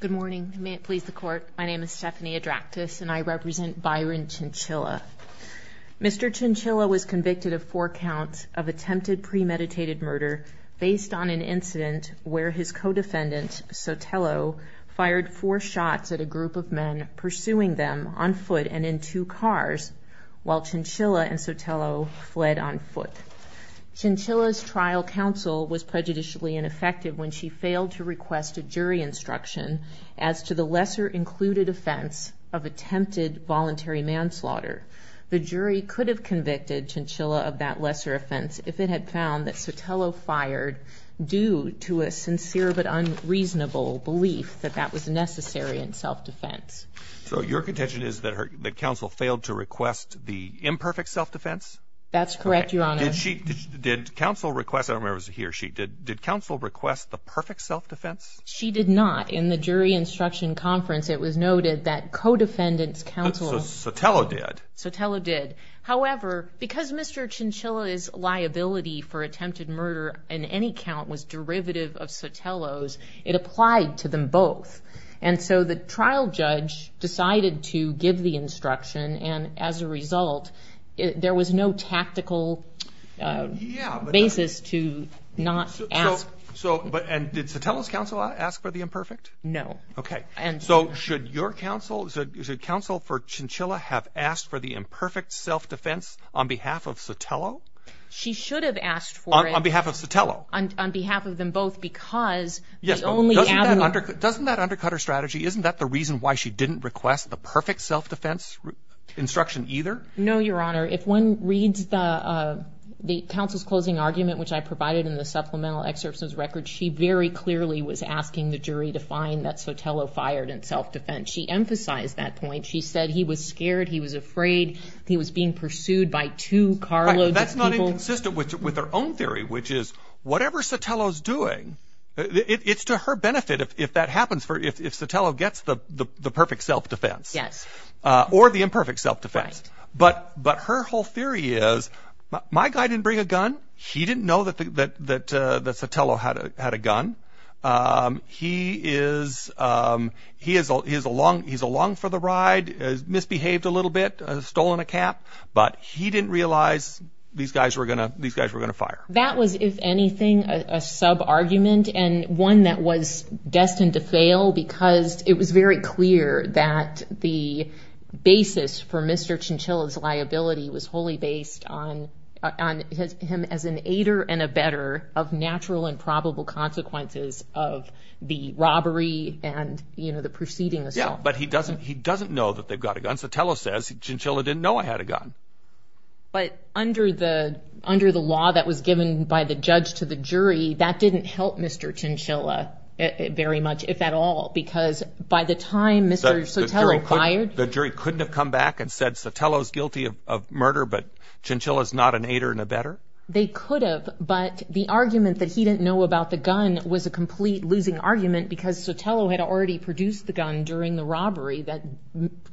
Good morning. May it please the court. My name is Stephanie Adractis and I represent Byron Chinchilla. Mr. Chinchilla was convicted of four counts of attempted premeditated murder based on an incident where his co-defendant, Sotelo, fired four shots at a group of men pursuing them on foot and in two cars while Chinchilla and Sotelo fled on foot. Chinchilla's trial counsel was prejudicially ineffective when she failed to request a jury instruction as to the lesser included offense of attempted voluntary manslaughter. The jury could have convicted Chinchilla of that lesser offense if it had found that Sotelo fired due to a sincere but unreasonable belief that that was necessary in self-defense. So your contention is that counsel failed to request the imperfect self-defense? That's correct, Your Honor. Did counsel request, I don't remember if it was he or she, did counsel request the perfect self-defense? She did not. In the jury instruction conference it was noted that co-defendant's counsel... Sotelo did. Sotelo did. However, because Mr. Chinchilla's liability for attempted murder in any count was derivative of Sotelo's, it applied to them both. And so the trial judge decided to give the instruction and as a result there was no tactical basis to not ask. And did Sotelo's counsel ask for the imperfect? No. Okay. So should your counsel, should counsel for Chinchilla have asked for the imperfect self-defense on behalf of Sotelo? She should have asked for it... On behalf of Sotelo. On behalf of them both because the only avenue... Yes, but doesn't that undercut her strategy? Isn't that the reason why she didn't request the perfect self-defense instruction either? No, Your Honor. If one reads the counsel's closing argument, which I provided in the supplemental excerpts of his record, she very clearly was asking the jury to find that Sotelo fired in self-defense. She emphasized that point. She said he was scared, he was afraid, he was being pursued by two carloads of people. She's consistent with her own theory, which is whatever Sotelo's doing, it's to her benefit if that happens, if Sotelo gets the perfect self-defense or the imperfect self-defense. But her whole theory is my guy didn't bring a gun. He didn't know that Sotelo had a gun. He's along for the ride, misbehaved a little bit, stolen a cap. But he didn't realize these guys were going to fire. That was, if anything, a sub-argument and one that was destined to fail because it was very clear that the basis for Mr. Chinchilla's liability was wholly based on him as an aider and abetter of natural and probable consequences of the robbery and the proceeding itself. But he doesn't know that they've got a gun. Sotelo says Chinchilla didn't know I had a gun. But under the law that was given by the judge to the jury, that didn't help Mr. Chinchilla very much, if at all, because by the time Mr. Sotelo fired... The jury couldn't have come back and said Sotelo's guilty of murder, but Chinchilla's not an aider and abetter? They could have, but the argument that he didn't know about the gun was a complete losing argument because Sotelo had already produced the gun during the robbery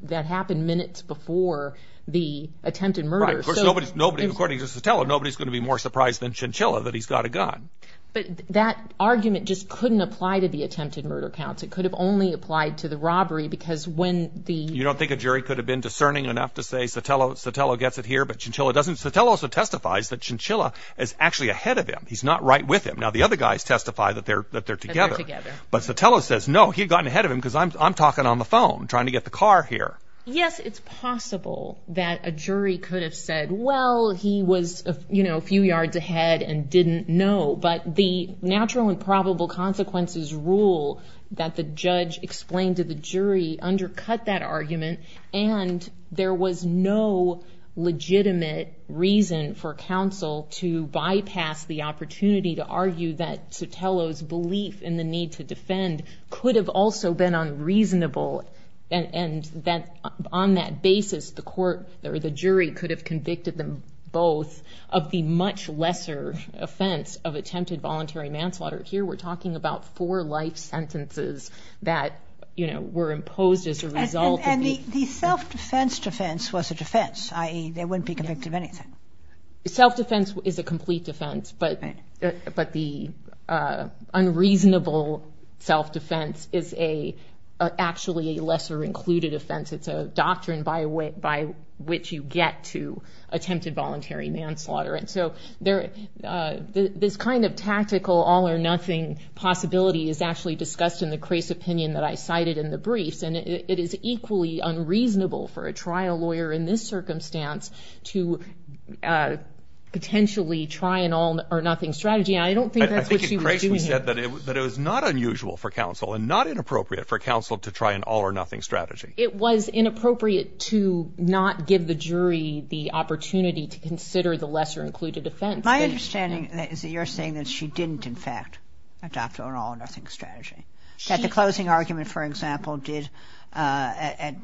that happened minutes before the attempted murder. Right. According to Sotelo, nobody's going to be more surprised than Chinchilla that he's got a gun. But that argument just couldn't apply to the attempted murder counts. It could have only applied to the robbery because when the... You don't think a jury could have been discerning enough to say Sotelo gets it here, but Chinchilla doesn't? Sotelo also testifies that Chinchilla is actually ahead of him. He's not right with him. Now, the other guys testify that they're together, but Sotelo says, no, he'd gotten ahead of him because I'm talking on the phone, trying to get the car here. Yes, it's possible that a jury could have said, well, he was a few yards ahead and didn't know, but the natural and probable consequences rule that the judge explained to the jury undercut that argument and there was no legitimate reason for counsel to bypass the opportunity to argue that Sotelo's belief in the need to defend could have also been unreasonable and that on that basis, the court or the jury could have convicted them both of the much lesser offense of attempted voluntary manslaughter. Here, we're talking about four life sentences that were imposed as a result of the... And the self-defense defense was a defense, i.e., they wouldn't be convicted of anything. The self-defense is a complete defense, but the unreasonable self-defense is actually a lesser-included offense. It's a doctrine by which you get to attempted voluntary manslaughter. And so this kind of tactical all-or-nothing possibility is actually discussed in the Crais opinion that I cited in the briefs, and it is equally unreasonable for a trial lawyer in this circumstance to potentially try an all-or-nothing strategy, and I don't think that's what she was doing here. I think in Crais we said that it was not unusual for counsel and not inappropriate for counsel to try an all-or-nothing strategy. It was inappropriate to not give the jury the opportunity to consider the lesser-included offense. But my understanding is that you're saying that she didn't, in fact, adopt an all-or-nothing strategy, that the closing argument, for example, did at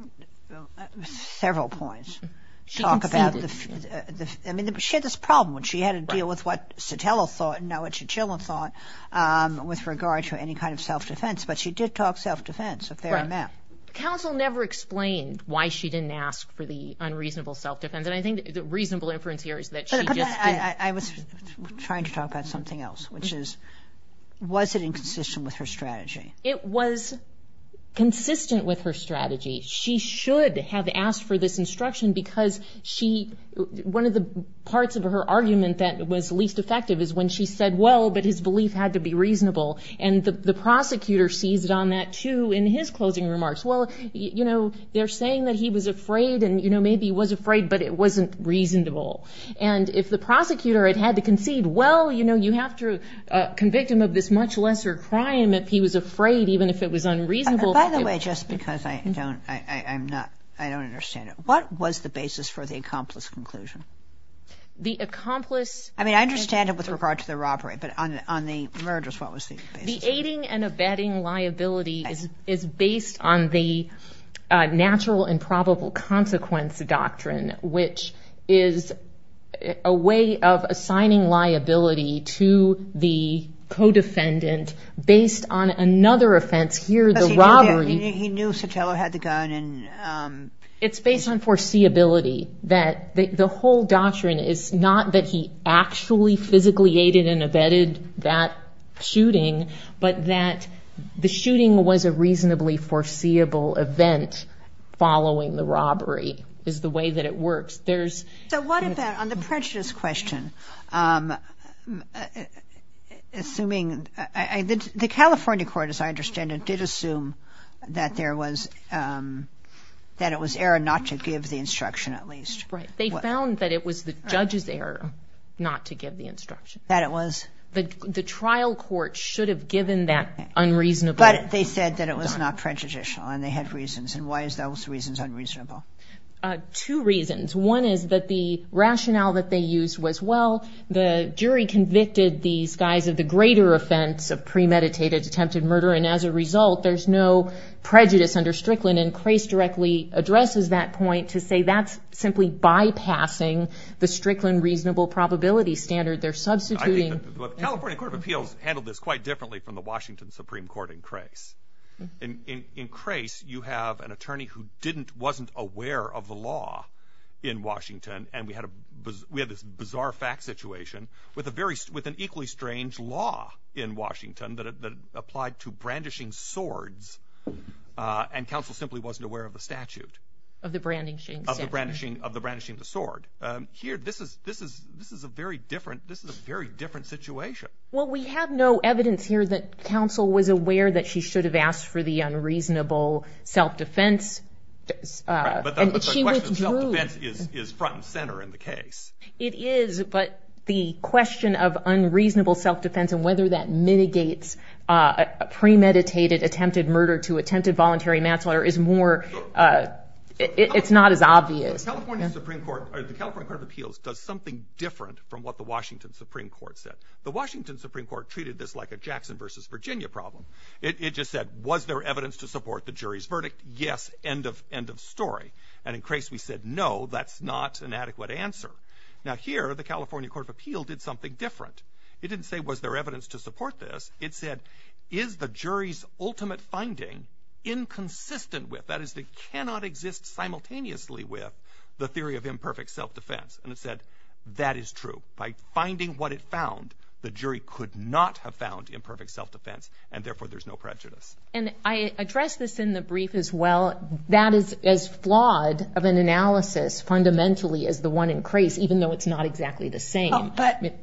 several points talk about the... She conceded. I mean, she had this problem when she had to deal with what Sotelo thought and now what Chichilla thought with regard to any kind of self-defense, but she did talk self-defense a fair amount. Right. Counsel never explained why she didn't ask for the unreasonable self-defense, and I think the reasonable inference here is that she just did. I was trying to talk about something else, which is, was it inconsistent with her strategy? It was consistent with her strategy. She should have asked for this instruction because she... One of the parts of her argument that was least effective is when she said, well, but his belief had to be reasonable. And the prosecutor sees it on that, too, in his closing remarks. Well, you know, they're saying that he was afraid and, you know, maybe he was afraid, but it wasn't reasonable. And if the prosecutor had had to concede, well, you know, you have to convict him of this much lesser crime if he was afraid, even if it was unreasonable. By the way, just because I don't understand it, what was the basis for the accomplice conclusion? The accomplice... I mean, I understand it with regard to the robbery, but on the mergers, what was the basis? The aiding and abetting liability is based on the natural and probable consequence doctrine, which is a way of assigning liability to the co-defendant based on another offense. Here, the robbery... He knew Sotelo had the gun and... It's based on foreseeability. The whole doctrine is not that he actually physically aided and abetted that shooting, but that the shooting was a reasonably foreseeable event following the robbery is the way that it works. So what about on the prejudice question, assuming... The California court, as I understand it, did assume that there was... that it was error not to give the instruction, at least. Right. They found that it was the judge's error not to give the instruction. That it was... The trial court should have given that unreasonable... But they said that it was not prejudicial and they had reasons. And why is those reasons unreasonable? Two reasons. One is that the rationale that they used was, well, the jury convicted these guys of the greater offense of premeditated attempted murder, and as a result, there's no prejudice under Strickland, and Crace directly addresses that point to say that's simply bypassing the Strickland reasonable probability standard. They're substituting... I think the California Court of Appeals handled this quite differently from the Washington Supreme Court in Crace. In Crace, you have an attorney who didn't... wasn't aware of the law in Washington, and we had this bizarre fact situation with an equally strange law in Washington that applied to brandishing swords, and counsel simply wasn't aware of the statute. Of the brandishing statute. Of the brandishing of the sword. Here, this is a very different situation. Well, we have no evidence here that counsel was aware that she should have asked for the unreasonable self-defense. But the question of self-defense is front and center in the case. It is, but the question of unreasonable self-defense and whether that mitigates a premeditated attempted murder to attempted voluntary manslaughter is more... it's not as obvious. The California Supreme Court, or the California Court of Appeals, does something different from what the Washington Supreme Court said. The Washington Supreme Court treated this like a Jackson versus Virginia problem. It just said, was there evidence to support the jury's verdict? Yes, end of story. And in Crace, we said, no, that's not an adequate answer. Now here, the California Court of Appeals did something different. It didn't say, was there evidence to support this? It said, is the jury's ultimate finding inconsistent with... that is, they cannot exist simultaneously with the theory of imperfect self-defense. And it said, that is true. By finding what it found, the jury could not have found imperfect self-defense, and therefore there's no prejudice. And I address this in the brief as well. That is as flawed of an analysis fundamentally as the one in Crace, even though it's not exactly the same. But...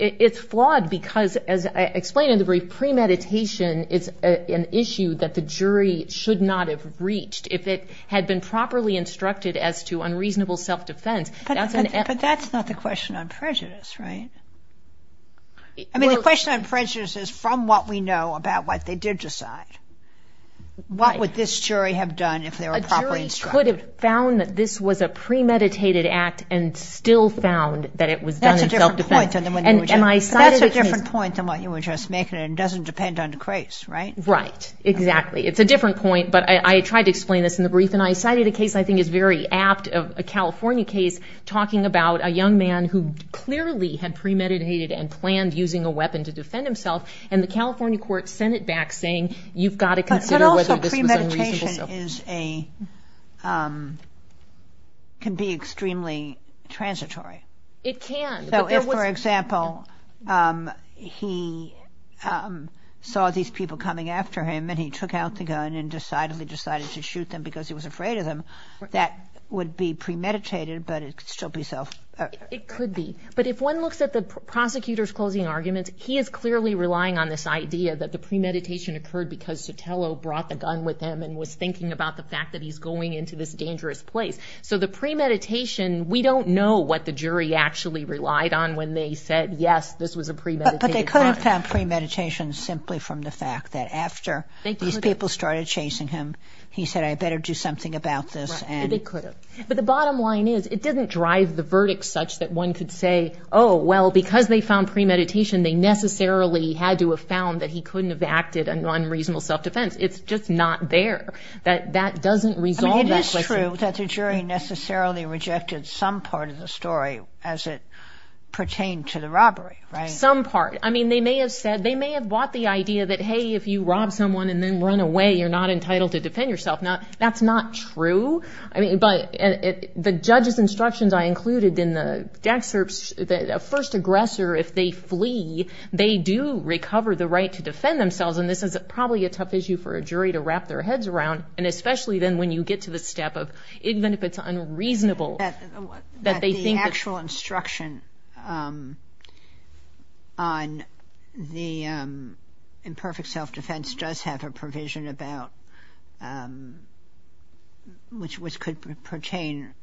It's flawed because, as I explain in the brief, premeditation is an issue that the jury should not have reached. If it had been properly instructed as to unreasonable self-defense... But that's not the question on prejudice, right? I mean, the question on prejudice is from what we know about what they did decide. What would this jury have done if they were properly instructed? A jury could have found that this was a premeditated act and still found that it was done in self-defense. That's a different point than what you were just making, and it doesn't depend on Crace, right? Right, exactly. It's a different point, but I tried to explain this in the brief, and I cited a case I think is very apt of a California case talking about a young man who clearly had premeditated and planned using a weapon to defend himself, and the California court sent it back saying, you've got to consider whether this was unreasonable self-defense. But also premeditation can be extremely transitory. It can. For example, he saw these people coming after him, and he took out the gun and decidedly decided to shoot them because he was afraid of them. That would be premeditated, but it could still be self-defense. It could be. But if one looks at the prosecutor's closing arguments, he is clearly relying on this idea that the premeditation occurred because Sotelo brought the gun with him and was thinking about the fact that he's going into this dangerous place. So the premeditation, we don't know what the jury actually relied on when they said, yes, this was a premeditated crime. But they could have found premeditation simply from the fact that after these people started chasing him, he said, I better do something about this. They could have. But the bottom line is it doesn't drive the verdict such that one could say, oh, well, because they found premeditation, they necessarily had to have found that he couldn't have acted on unreasonable self-defense. It's just not there. That doesn't resolve that question. It is true that the jury necessarily rejected some part of the story as it pertained to the robbery, right? Some part. I mean, they may have bought the idea that, hey, if you rob someone and then run away, you're not entitled to defend yourself. Now, that's not true. I mean, but the judge's instructions I included in the excerpts, the first aggressor, if they flee, they do recover the right to defend themselves. And this is probably a tough issue for a jury to wrap their heads around, and especially then when you get to the step of even if it's unreasonable that they think that the actual instruction on the imperfect self-defense does have a provision about which could pertain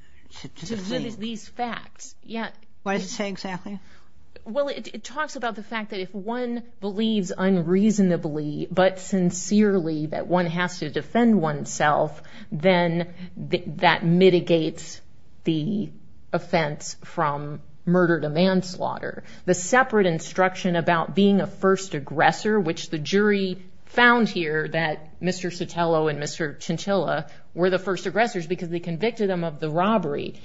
to the fleeing. These facts. What does it say exactly? Well, it talks about the fact that if one believes unreasonably but sincerely that one has to defend oneself, then that mitigates the offense from murder to manslaughter. The separate instruction about being a first aggressor, which the jury found here that Mr. Sotelo and Mr. Chantilla were the first aggressors because they convicted them of the robbery,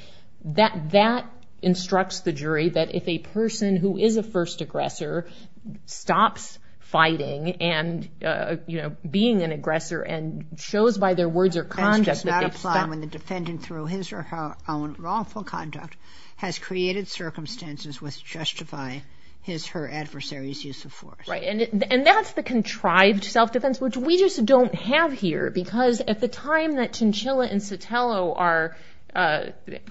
that instructs the jury that if a person who is a first aggressor stops fighting and being an aggressor and shows by their words or conduct that they've stopped. Defense does not apply when the defendant, through his or her own wrongful conduct, has created circumstances which justify his or her adversary's use of force. Right, and that's the contrived self-defense, which we just don't have here because at the time that Chantilla and Sotelo are,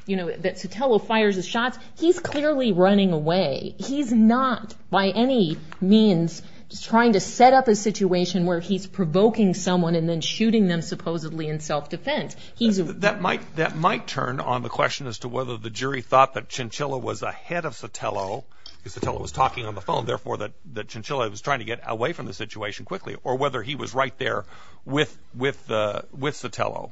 you know, that Sotelo fires his shots, he's clearly running away. He's not by any means trying to set up a situation where he's provoking someone and then shooting them supposedly in self-defense. That might turn on the question as to whether the jury thought that Chantilla was ahead of Sotelo because Sotelo was talking on the phone, therefore that Chantilla was trying to get away from the situation quickly, or whether he was right there with Sotelo.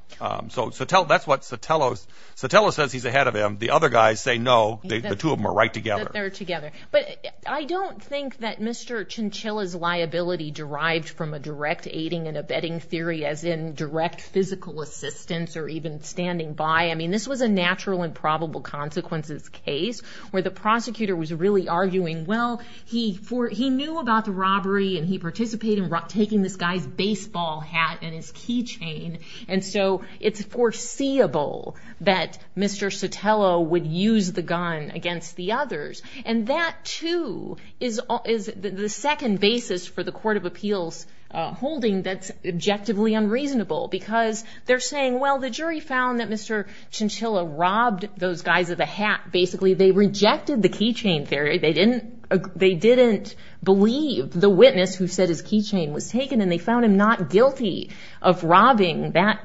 So that's what Sotelo says he's ahead of him. The other guys say no. The two of them are right together. They're together. But I don't think that Mr. Chantilla's liability derived from a direct aiding and abetting theory as in direct physical assistance or even standing by. I mean, this was a natural and probable consequences case where the prosecutor was really arguing, well, he knew about the robbery and he participated in taking this guy's baseball hat and his key chain, and so it's foreseeable that Mr. Sotelo would use the gun against the others. And that, too, is the second basis for the court of appeals holding that's objectively unreasonable because they're saying, well, the jury found that Mr. Chantilla robbed those guys of the hat. Basically, they rejected the key chain theory. They didn't believe the witness who said his key chain was taken, and they found him not guilty of robbing that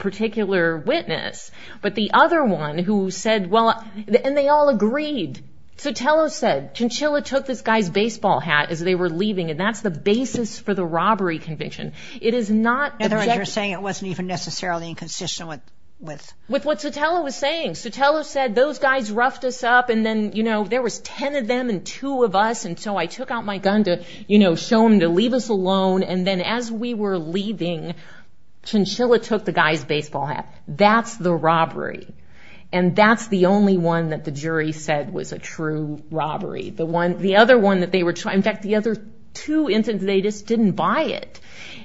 particular witness. But the other one who said, well, and they all agreed. Sotelo said Chantilla took this guy's baseball hat as they were leaving, and that's the basis for the robbery conviction. It is not objective. In other words, you're saying it wasn't even necessarily in consistent with? With what Sotelo was saying. Sotelo said those guys roughed us up, and then, you know, there was ten of them and two of us, and so I took out my gun to, you know, show them to leave us alone, and then as we were leaving, Chantilla took the guy's baseball hat. That's the robbery, and that's the only one that the jury said was a true robbery. The other one that they were trying, in fact, the other two incidents, they just didn't buy it.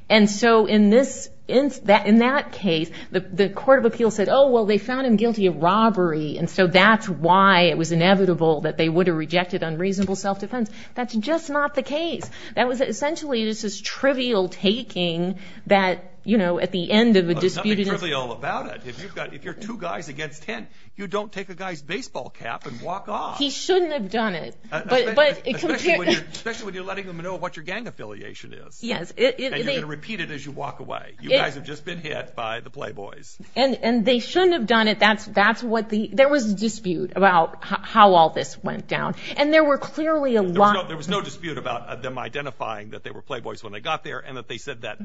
And so in that case, the court of appeals said, oh, well, they found him guilty of robbery, and so that's why it was inevitable that they would have rejected unreasonable self-defense. That's just not the case. That was essentially just this trivial taking that, you know, at the end of a disputed instance. There's nothing trivial about it. If you're two guys against ten, you don't take a guy's baseball cap and walk off. He shouldn't have done it. Especially when you're letting them know what your gang affiliation is. Yes. And you can repeat it as you walk away. You guys have just been hit by the Playboys. And they shouldn't have done it. That's what the—there was a dispute about how all this went down, and there were clearly a lot— There was no dispute about them identifying that they were Playboys when they got there and that they said that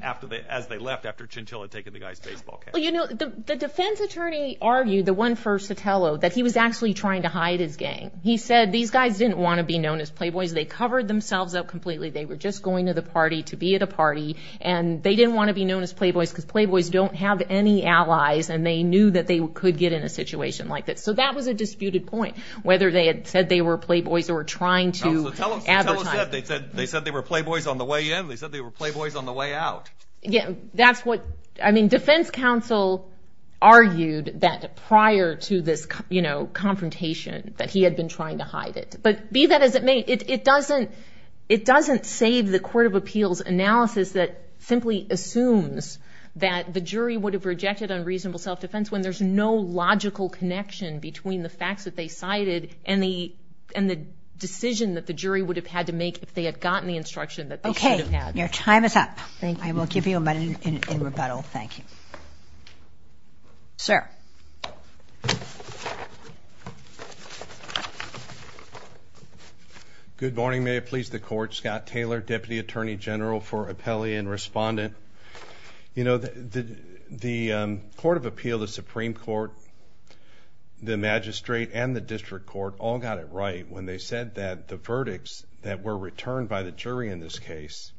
as they left after Chantilla had taken the guy's baseball cap. Well, you know, the defense attorney argued, the one for Sotelo, that he was actually trying to hide his gang. He said these guys didn't want to be known as Playboys. They covered themselves up completely. They were just going to the party to be at a party, and they didn't want to be known as Playboys because Playboys don't have any allies, and they knew that they could get in a situation like this. So that was a disputed point, whether they had said they were Playboys or were trying to advertise. They said they were Playboys on the way in. They said they were Playboys on the way out. That's what—I mean, defense counsel argued that prior to this, you know, confrontation, that he had been trying to hide it. But be that as it may, it doesn't save the court of appeals analysis that simply assumes that the jury would have rejected unreasonable self-defense when there's no logical connection between the facts that they cited and the decision that the jury would have had to make if they had gotten the instruction that they should have had. Okay. Your time is up. Thank you. I will give you a minute in rebuttal. Thank you. Sir. Good morning. May it please the Court. Scott Taylor, Deputy Attorney General for Appellee and Respondent. You know, the court of appeal, the Supreme Court, the magistrate, and the district court all got it right when they said that the verdicts that were returned by the jury in this case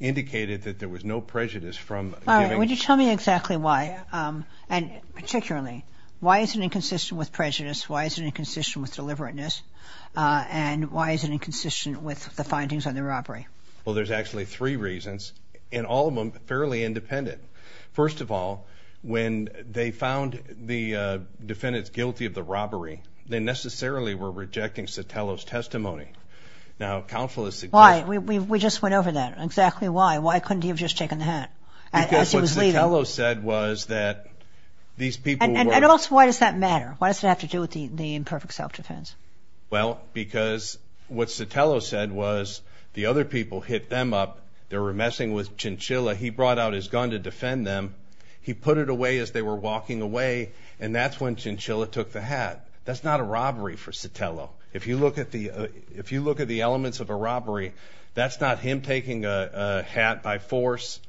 indicated that there was no prejudice from giving— All right. Would you tell me exactly why, and particularly, why is it inconsistent with prejudice, why is it inconsistent with deliberateness, and why is it inconsistent with the findings on the robbery? Well, there's actually three reasons, and all of them fairly independent. First of all, when they found the defendants guilty of the robbery, they necessarily were rejecting Sotelo's testimony. Now, counsel is suggesting— Why? We just went over that. Exactly why. Why couldn't he have just taken the hat as he was leaving? Because what Sotelo said was that these people were— And also, why does that matter? Why does it have to do with the imperfect self-defense? Well, because what Sotelo said was the other people hit them up. They were messing with Chinchilla. He brought out his gun to defend them. He put it away as they were walking away, and that's when Chinchilla took the hat. That's not a robbery for Sotelo. If you look at the elements of a robbery, that's not him taking a hat by force,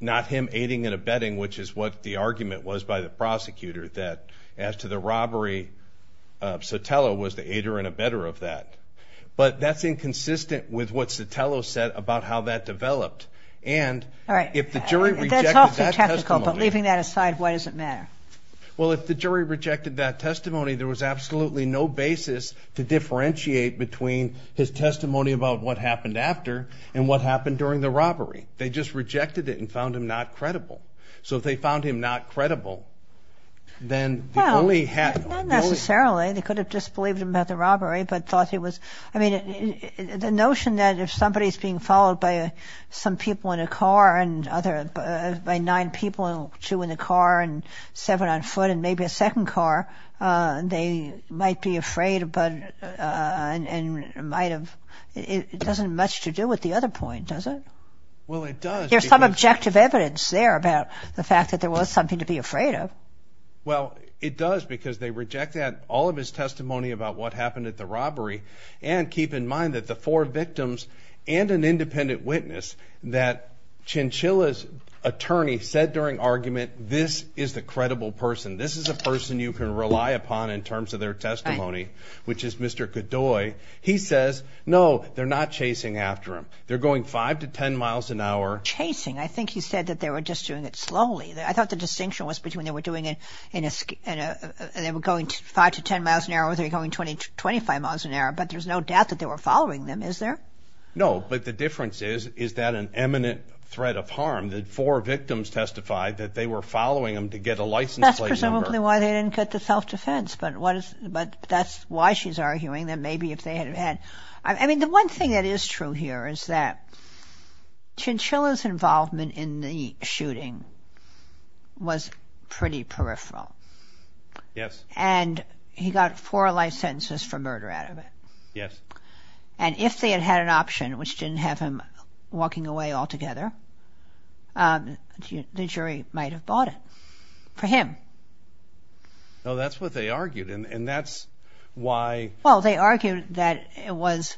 not him aiding and abetting, which is what the argument was by the prosecutor, that as to the robbery, Sotelo was the aider and abetter of that. But that's inconsistent with what Sotelo said about how that developed. And if the jury rejected that testimony— That's awfully technical, but leaving that aside, why does it matter? Well, if the jury rejected that testimony, there was absolutely no basis to differentiate between his testimony about what happened after and what happened during the robbery. They just rejected it and found him not credible. So if they found him not credible, then the bully had— Well, not necessarily. They could have disbelieved him about the robbery, but thought he was— I mean, the notion that if somebody is being followed by some people in a car and by nine people and two in a car and seven on foot and maybe a second car, they might be afraid and might have— It doesn't have much to do with the other point, does it? Well, it does because— There's some objective evidence there about the fact that there was something to be afraid of. Well, it does because they reject all of his testimony about what happened at the robbery and keep in mind that the four victims and an independent witness, that Chinchilla's attorney said during argument, this is the credible person, this is a person you can rely upon in terms of their testimony, which is Mr. Godoy. He says, no, they're not chasing after him. They're going 5 to 10 miles an hour. Chasing. I think he said that they were just doing it slowly. I thought the distinction was between they were doing it in a— they were going 5 to 10 miles an hour or they were going 25 miles an hour, but there's no doubt that they were following them, is there? No, but the difference is, is that an eminent threat of harm. The four victims testified that they were following him to get a license plate number. That's presumably why they didn't get the self-defense, but that's why she's arguing that maybe if they had had— I mean, the one thing that is true here is that Chinchilla's involvement in the shooting was pretty peripheral. Yes. And he got four life sentences for murder out of it. Yes. And if they had had an option, which didn't have him walking away altogether, the jury might have bought it for him. No, that's what they argued, and that's why— Well, they argued that it was—as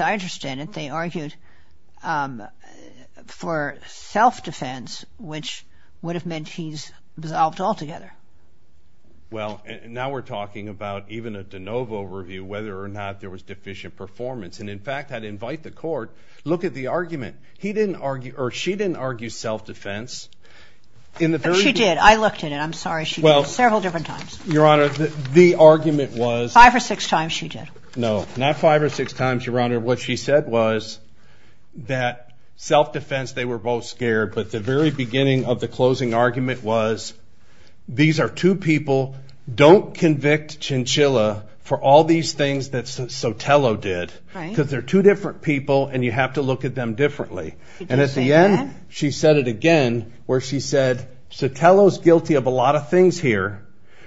I understand it, they argued for self-defense, which would have meant he's absolved altogether. Well, now we're talking about even a de novo review, whether or not there was deficient performance. And, in fact, I'd invite the court, look at the argument. He didn't argue—or she didn't argue self-defense in the very— She did. I looked at it. I'm sorry. She did it several different times. Your Honor, the argument was— Five or six times she did. No, not five or six times, Your Honor. What she said was that self-defense, they were both scared, but the very beginning of the closing argument was, these are two people, don't convict Chinchilla for all these things that Sotelo did. Right. Because they're two different people, and you have to look at them differently. Did you say that? And at the end, she said it again, where she said, Sotelo's guilty of a lot of things here,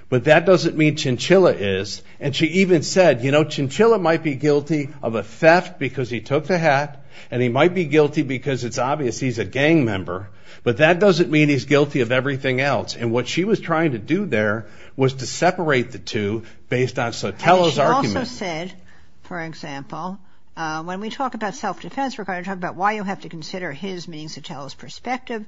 but that doesn't mean Chinchilla is. And she even said, you know, Chinchilla might be guilty of a theft because he took the hat, and he might be guilty because it's obvious he's a gang member, but that doesn't mean he's guilty of everything else. And what she was trying to do there was to separate the two based on Sotelo's argument. And she also said, for example, when we talk about self-defense, we're going to talk about why you have to consider his, meaning Sotelo's, perspective.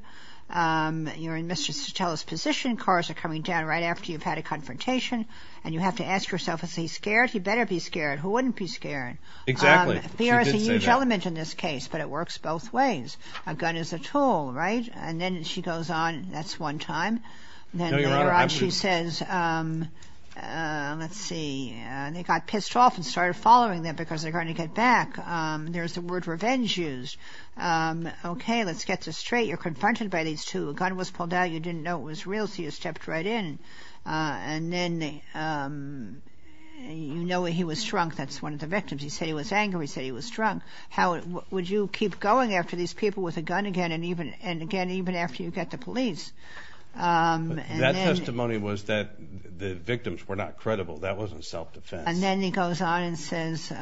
You're in Mr. Sotelo's position. Cars are coming down right after you've had a confrontation, and you have to ask yourself, is he scared? He better be scared. Who wouldn't be scared? Exactly. She did say that. Fear is a huge element in this case, but it works both ways. A gun is a tool, right? And then she goes on. That's one time. Then later on she says, let's see, they got pissed off and started following them because they're going to get back. There's the word revenge used. Okay, let's get this straight. You're confronted by these two. A gun was pulled out. You didn't know it was real, so you stepped right in. And then you know he was shrunk. That's one of the victims. He said he was angry. He said he was shrunk. How would you keep going after these people with a gun again and again even after you get to police? That testimony was that the victims were not credible. That wasn't self-defense. And then he goes on and says –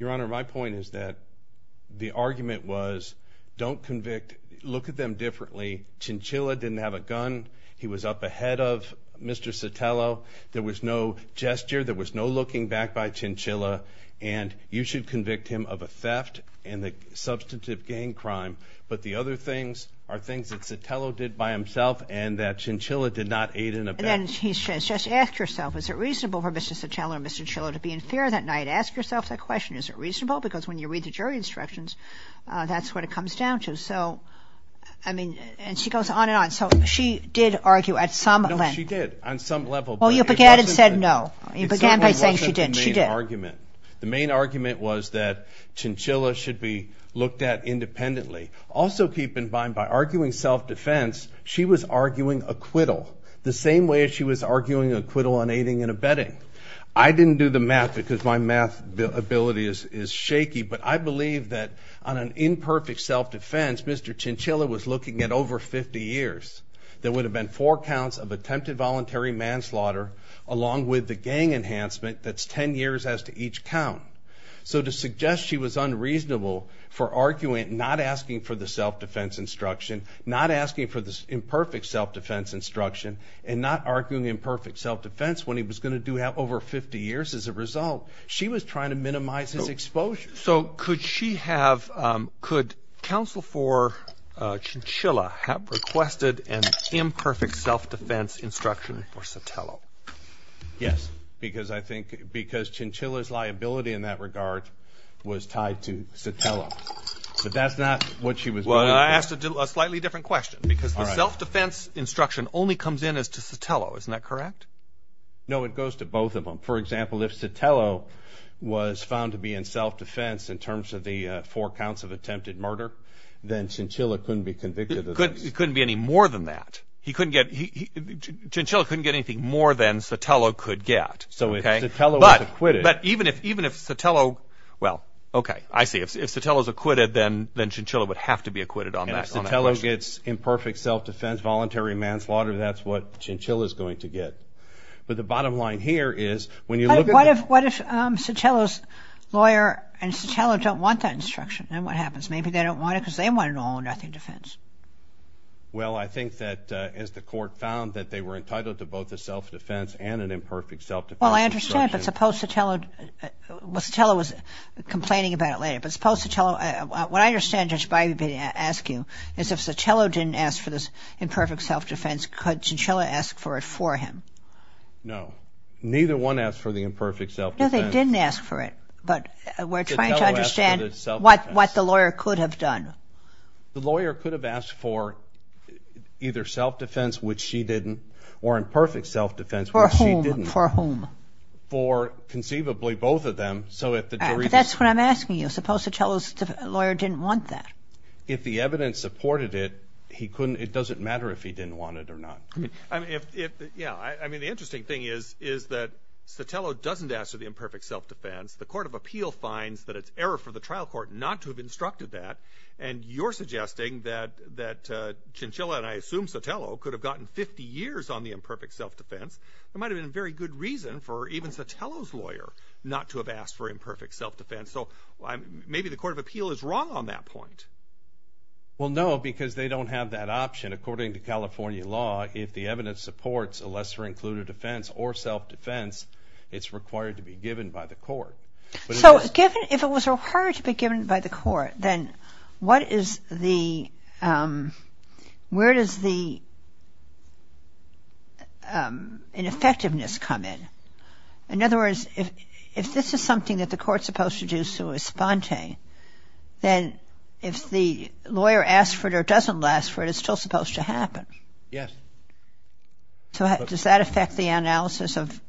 Your Honor, my point is that the argument was don't convict. Look at them differently. Chinchilla didn't have a gun. He was up ahead of Mr. Sotelo. There was no gesture. There was no looking back by Chinchilla. And you should convict him of a theft and a substantive gang crime. But the other things are things that Sotelo did by himself and that Chinchilla did not aid in a bet. And then he says just ask yourself, is it reasonable for Mr. Sotelo and Mr. Chinchilla to be in fear that night? Ask yourself that question. Is it reasonable? Because when you read the jury instructions, that's what it comes down to. So, I mean, and she goes on and on. So she did argue at some length. No, she did on some level. Well, you began and said no. You began by saying she didn't. She did. The main argument was that Chinchilla should be looked at independently. Also keep in mind, by arguing self-defense, she was arguing acquittal the same way as she was arguing acquittal on aiding and abetting. I didn't do the math because my math ability is shaky, but I believe that on an imperfect self-defense, Mr. Chinchilla was looking at over 50 years. There would have been four counts of attempted voluntary manslaughter along with the gang enhancement. That's 10 years as to each count. So to suggest she was unreasonable for arguing, not asking for the self-defense instruction, not asking for the imperfect self-defense instruction, and not arguing imperfect self-defense when he was going to do over 50 years as a result, she was trying to minimize his exposure. So could she have, could counsel for Chinchilla have requested an imperfect self-defense instruction for Sotelo? Yes, because I think, because Chinchilla's liability in that regard was tied to Sotelo. But that's not what she was doing. Well, I asked a slightly different question, because the self-defense instruction only comes in as to Sotelo. Isn't that correct? No, it goes to both of them. For example, if Sotelo was found to be in self-defense in terms of the four counts of attempted murder, then Chinchilla couldn't be convicted of this. He couldn't be any more than that. He couldn't get, Chinchilla couldn't get anything more than Sotelo could get. So if Sotelo was acquitted. But even if Sotelo, well, okay, I see. If Sotelo's acquitted, then Chinchilla would have to be acquitted on that. And if Sotelo gets imperfect self-defense, voluntary manslaughter, that's what Chinchilla's going to get. But the bottom line here is when you look at. What if Chinchilla's lawyer and Chinchilla don't want that instruction? Then what happens? Maybe they don't want it because they want an all-or-nothing defense. Well, I think that as the court found that they were entitled to both a self-defense and an imperfect self-defense instruction. Well, I understand, but suppose Sotelo. Well, Sotelo was complaining about it later. But suppose Sotelo. What I understand, Judge Bybee, asking is if Sotelo didn't ask for this imperfect self-defense, could Chinchilla ask for it for him? No. Neither one asked for the imperfect self-defense. No, they didn't ask for it. But we're trying to understand what the lawyer could have done. The lawyer could have asked for either self-defense, which she didn't, or imperfect self-defense, which she didn't. For whom? For conceivably both of them. But that's what I'm asking you. Suppose Sotelo's lawyer didn't want that. If the evidence supported it, it doesn't matter if he didn't want it or not. Yeah. I mean, the interesting thing is that Sotelo doesn't ask for the imperfect self-defense. The Court of Appeal finds that it's error for the trial court not to have instructed that. And you're suggesting that Chinchilla, and I assume Sotelo, could have gotten 50 years on the imperfect self-defense. It might have been a very good reason for even Sotelo's lawyer not to have asked for imperfect self-defense. So maybe the Court of Appeal is wrong on that point. Well, no, because they don't have that option. According to California law, if the evidence supports a lesser-included offense or self-defense, it's required to be given by the court. So if it was required to be given by the court, then where does the ineffectiveness come in? In other words, if this is something that the court's supposed to do sui sponte, then if the lawyer asks for it or doesn't ask for it, it's still supposed to happen. Yes. So does that affect the analysis of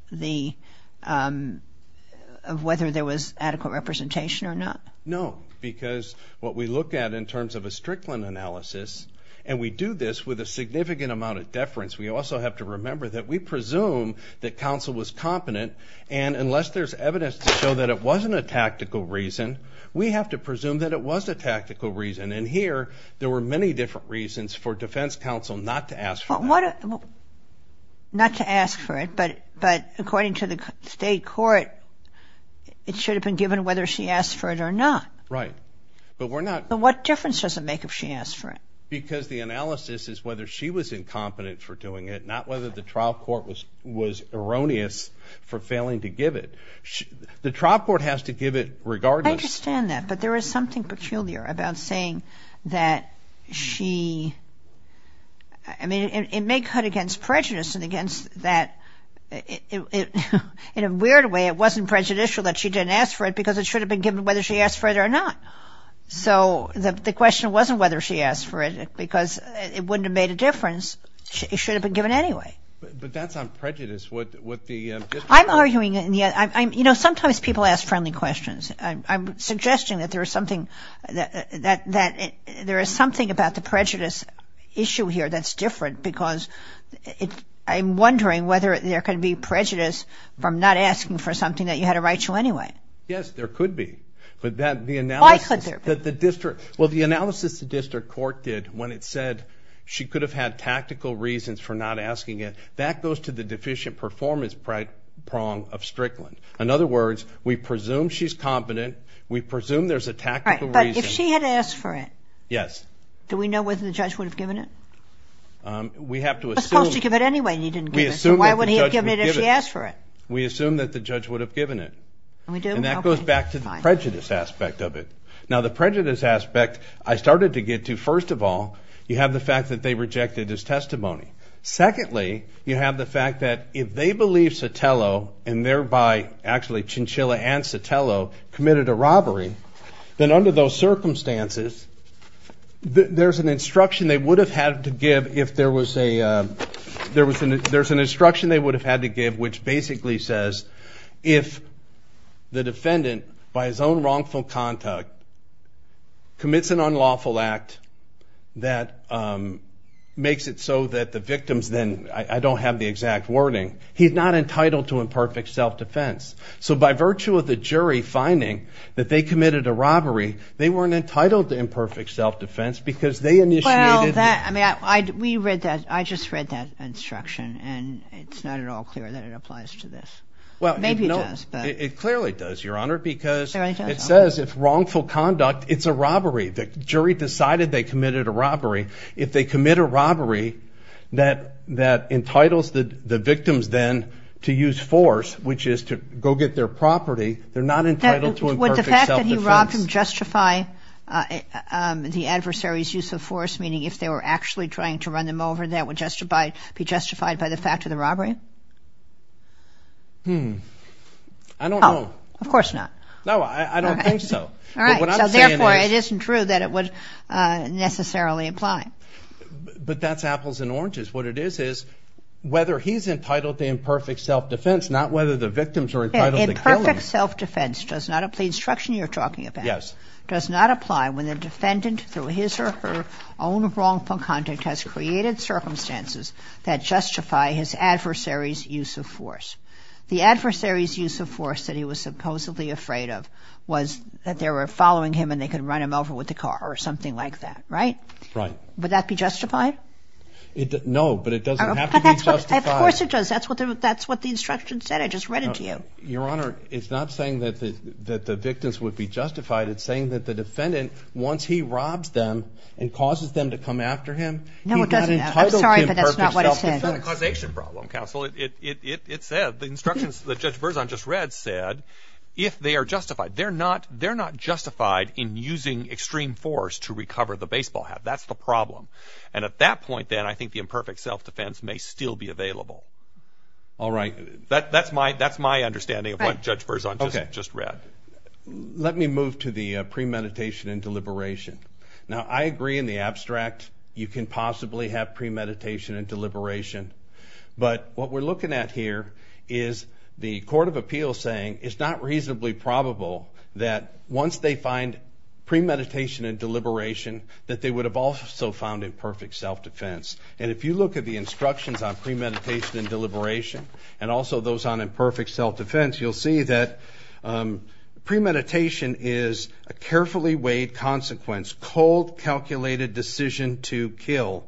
whether there was adequate representation or not? No, because what we look at in terms of a Strickland analysis, and we do this with a significant amount of deference, we also have to remember that we presume that counsel was competent, and unless there's evidence to show that it wasn't a tactical reason, we have to presume that it was a tactical reason. And here, there were many different reasons for defense counsel not to ask for it. Not to ask for it, but according to the state court, it should have been given whether she asked for it or not. Right. But what difference does it make if she asked for it? Because the analysis is whether she was incompetent for doing it, not whether the trial court was erroneous for failing to give it. The trial court has to give it regardless. I understand that, but there is something peculiar about saying that she – I mean, it may cut against prejudice and against that – in a weird way, it wasn't prejudicial that she didn't ask for it because it should have been given whether she asked for it or not. So the question wasn't whether she asked for it because it wouldn't have made a difference. It should have been given anyway. But that's on prejudice. I'm arguing – you know, sometimes people ask friendly questions. I'm suggesting that there is something about the prejudice issue here that's different because I'm wondering whether there could be prejudice from not asking for something that you had a right to anyway. Yes, there could be. Why could there be? Well, the analysis the district court did when it said she could have had tactical reasons for not asking it, that goes to the deficient performance prong of Strickland. In other words, we presume she's competent. We presume there's a tactical reason. But if she had asked for it, do we know whether the judge would have given it? We have to assume – He was supposed to give it anyway, and he didn't give it. So why would he have given it if she asked for it? We assume that the judge would have given it. And we do? Okay. And that goes back to the prejudice aspect of it. Now, the prejudice aspect I started to get to, first of all, you have the fact that they rejected his testimony. Secondly, you have the fact that if they believe Sotelo, and thereby actually Chinchilla and Sotelo, committed a robbery, then under those circumstances, there's an instruction they would have had to give if there was a – there's an instruction they would have had to give which basically says if the defendant, by his own wrongful conduct, commits an unlawful act that makes it so that the victims then – I don't have the exact wording – he's not entitled to imperfect self-defense. So by virtue of the jury finding that they committed a robbery, they weren't entitled to imperfect self-defense because they initiated – Well, that – I mean, we read that – I just read that instruction, and it's not at all clear that it applies to this. Maybe it does, but – It clearly does, Your Honor, because it says if wrongful conduct – if they committed a robbery. If they commit a robbery that entitles the victims then to use force, which is to go get their property, they're not entitled to imperfect self-defense. Would the fact that he robbed him justify the adversary's use of force, meaning if they were actually trying to run them over, that would justify – be justified by the fact of the robbery? Hmm. I don't know. Oh, of course not. No, I don't think so. All right. What I'm saying is – So therefore, it isn't true that it would necessarily apply. But that's apples and oranges. What it is is whether he's entitled to imperfect self-defense, not whether the victims are entitled to kill him. Imperfect self-defense does not – the instruction you're talking about – Yes. – does not apply when the defendant, through his or her own wrongful conduct, has created circumstances that justify his adversary's use of force. The adversary's use of force that he was supposedly afraid of was that they were following him and they could run him over with a car or something like that, right? Right. Would that be justified? No, but it doesn't have to be justified. Of course it does. That's what the instruction said. I just read it to you. Your Honor, it's not saying that the victims would be justified. It's saying that the defendant, once he robs them and causes them to come after him, he's not entitled to imperfect self-defense. No, it doesn't. I'm sorry, but that's not what it said. It's not a causation problem, counsel. It said – the instructions that Judge Verzon just read said, if they are justified. They're not justified in using extreme force to recover the baseball hat. That's the problem. And at that point, then, I think the imperfect self-defense may still be available. All right. That's my understanding of what Judge Verzon just read. Let me move to the premeditation and deliberation. Now, I agree in the abstract you can possibly have premeditation and deliberation, but what we're looking at here is the court of appeals saying it's not reasonably probable that once they find premeditation and deliberation, that they would have also found imperfect self-defense. And if you look at the instructions on premeditation and deliberation and also those on imperfect self-defense, you'll see that premeditation is a carefully weighed consequence, cold calculated decision to kill.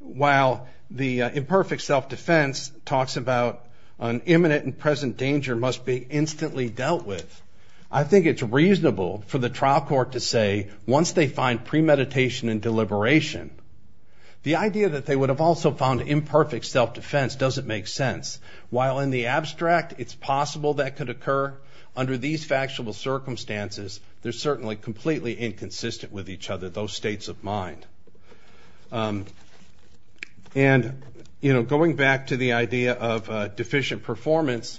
While the imperfect self-defense talks about an imminent and present danger must be instantly dealt with, I think it's reasonable for the trial court to say once they find premeditation and deliberation, the idea that they would have also found imperfect self-defense doesn't make sense. While in the abstract it's possible that could occur, under these factual circumstances, they're certainly completely inconsistent with each other, those states of mind. And, you know, going back to the idea of deficient performance,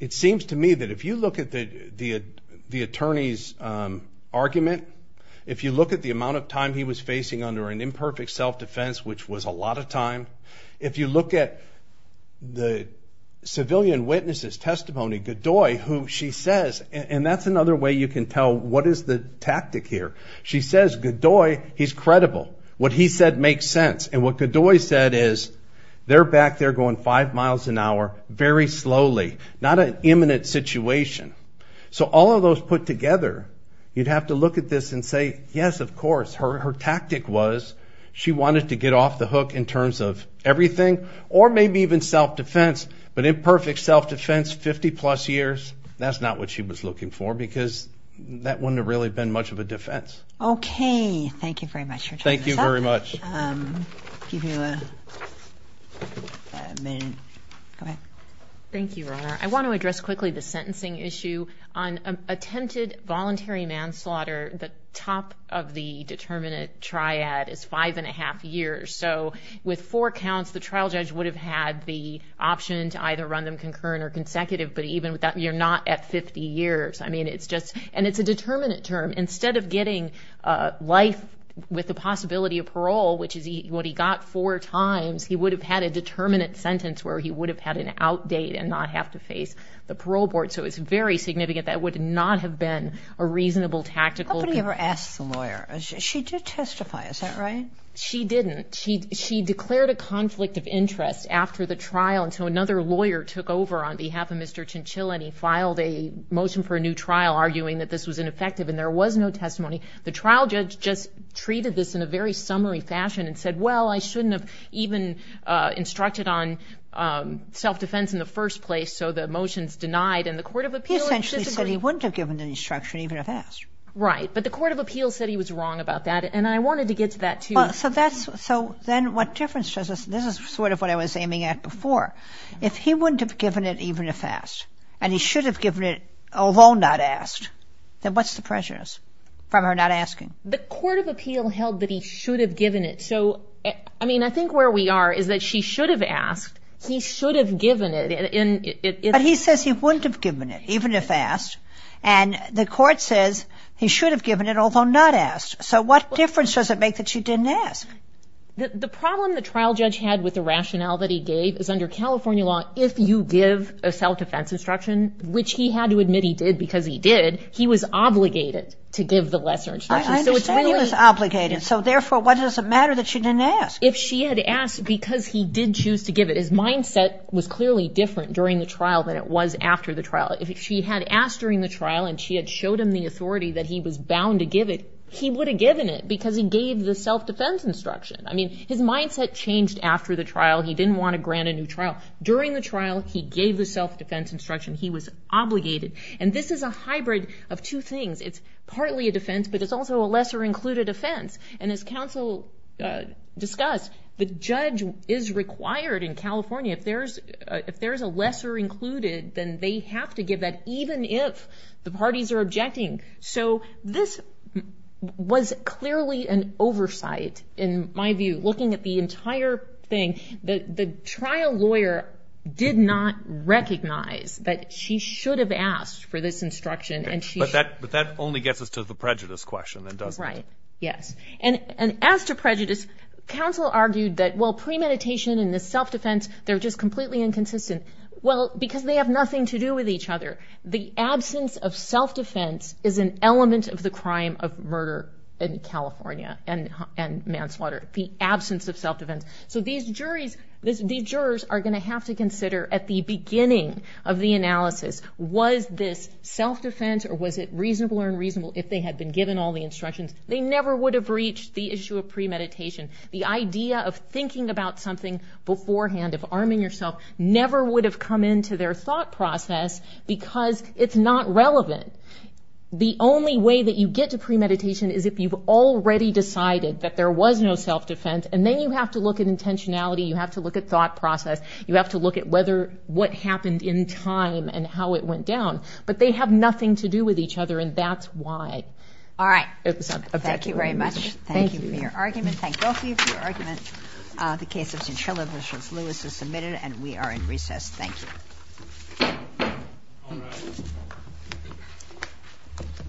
it seems to me that if you look at the attorney's argument, if you look at the amount of time he was facing under an imperfect self-defense, which was a lot of time, if you look at the civilian witness's testimony, Godoy, who she says, and that's another way you can tell what is the tactic here, she says, Godoy, he's credible. What he said makes sense. And what Godoy said is they're back there going five miles an hour very slowly, not an imminent situation. So all of those put together, you'd have to look at this and say, yes, of course, her tactic was she wanted to get off the hook in terms of everything or maybe even self-defense, but imperfect self-defense, 50-plus years, that's not what she was looking for because that wouldn't have really been much of a defense. Okay. Thank you very much for joining us. Thank you very much. I'll give you a minute. Go ahead. Thank you, Your Honor. I want to address quickly the sentencing issue. On attempted voluntary manslaughter, the top of the determinate triad is five and a half years. So with four counts, the trial judge would have had the option to either run them concurrent or consecutive, but even with that, you're not at 50 years. I mean, it's just and it's a determinate term. Instead of getting life with the possibility of parole, which is what he got four times, he would have had a determinate sentence where he would have had an out date and not have to face the parole board. So it's very significant. That would not have been a reasonable tactical. Nobody ever asked the lawyer. She did testify. Is that right? She didn't. She declared a conflict of interest after the trial, and so another lawyer took over on behalf of Mr. Chinchill, and he filed a motion for a new trial arguing that this was ineffective, and there was no testimony. The trial judge just treated this in a very summary fashion and said, well, I shouldn't have even instructed on self-defense in the first place, so the motion's denied, and the court of appeals disagreed. He essentially said he wouldn't have given the instruction, even if asked. Right. But the court of appeals said he was wrong about that, and I wanted to get to that, too. So that's so then what difference does this? This is sort of what I was aiming at before. If he wouldn't have given it, even if asked, and he should have given it, although not asked, then what's the prejudice from her not asking? The court of appeal held that he should have given it. So, I mean, I think where we are is that she should have asked. He should have given it. But he says he wouldn't have given it, even if asked, and the court says he should have given it, although not asked. So what difference does it make that she didn't ask? The problem the trial judge had with the rationale that he gave is under California law, if you give a self-defense instruction, which he had to admit he did because he did, he was obligated to give the lesser instruction. I understand he was obligated. So, therefore, why does it matter that she didn't ask? If she had asked because he did choose to give it, his mindset was clearly different during the trial than it was after the trial. If she had asked during the trial and she had showed him the authority that he was bound to give it, he would have given it because he gave the self-defense instruction. I mean, his mindset changed after the trial. He didn't want to grant a new trial. During the trial, he gave the self-defense instruction. He was obligated. And this is a hybrid of two things. It's partly a defense, but it's also a lesser-included offense. And as counsel discussed, the judge is required in California. If there's a lesser-included, then they have to give that, even if the parties are objecting. So this was clearly an oversight, in my view, looking at the entire thing. The trial lawyer did not recognize that she should have asked for this instruction. But that only gets us to the prejudice question, then, doesn't it? Right. Yes. And as to prejudice, counsel argued that, well, premeditation and the self-defense, they're just completely inconsistent. Well, because they have nothing to do with each other. The absence of self-defense is an element of the crime of murder in California and manslaughter, the absence of self-defense. So these jurors are going to have to consider, at the beginning of the analysis, was this self-defense or was it reasonable or unreasonable if they had been given all the instructions? They never would have reached the issue of premeditation. The idea of thinking about something beforehand, of arming yourself, never would have come into their thought process because it's not relevant. The only way that you get to premeditation is if you've already decided that there was no self-defense, and then you have to look at intentionality, you have to look at thought process, you have to look at what happened in time and how it went down. But they have nothing to do with each other, and that's why. All right. Thank you very much. Thank you for your argument. Thank both of you for your argument. The case of Cinchilla v. Lewis is submitted, and we are in recess. Thank you.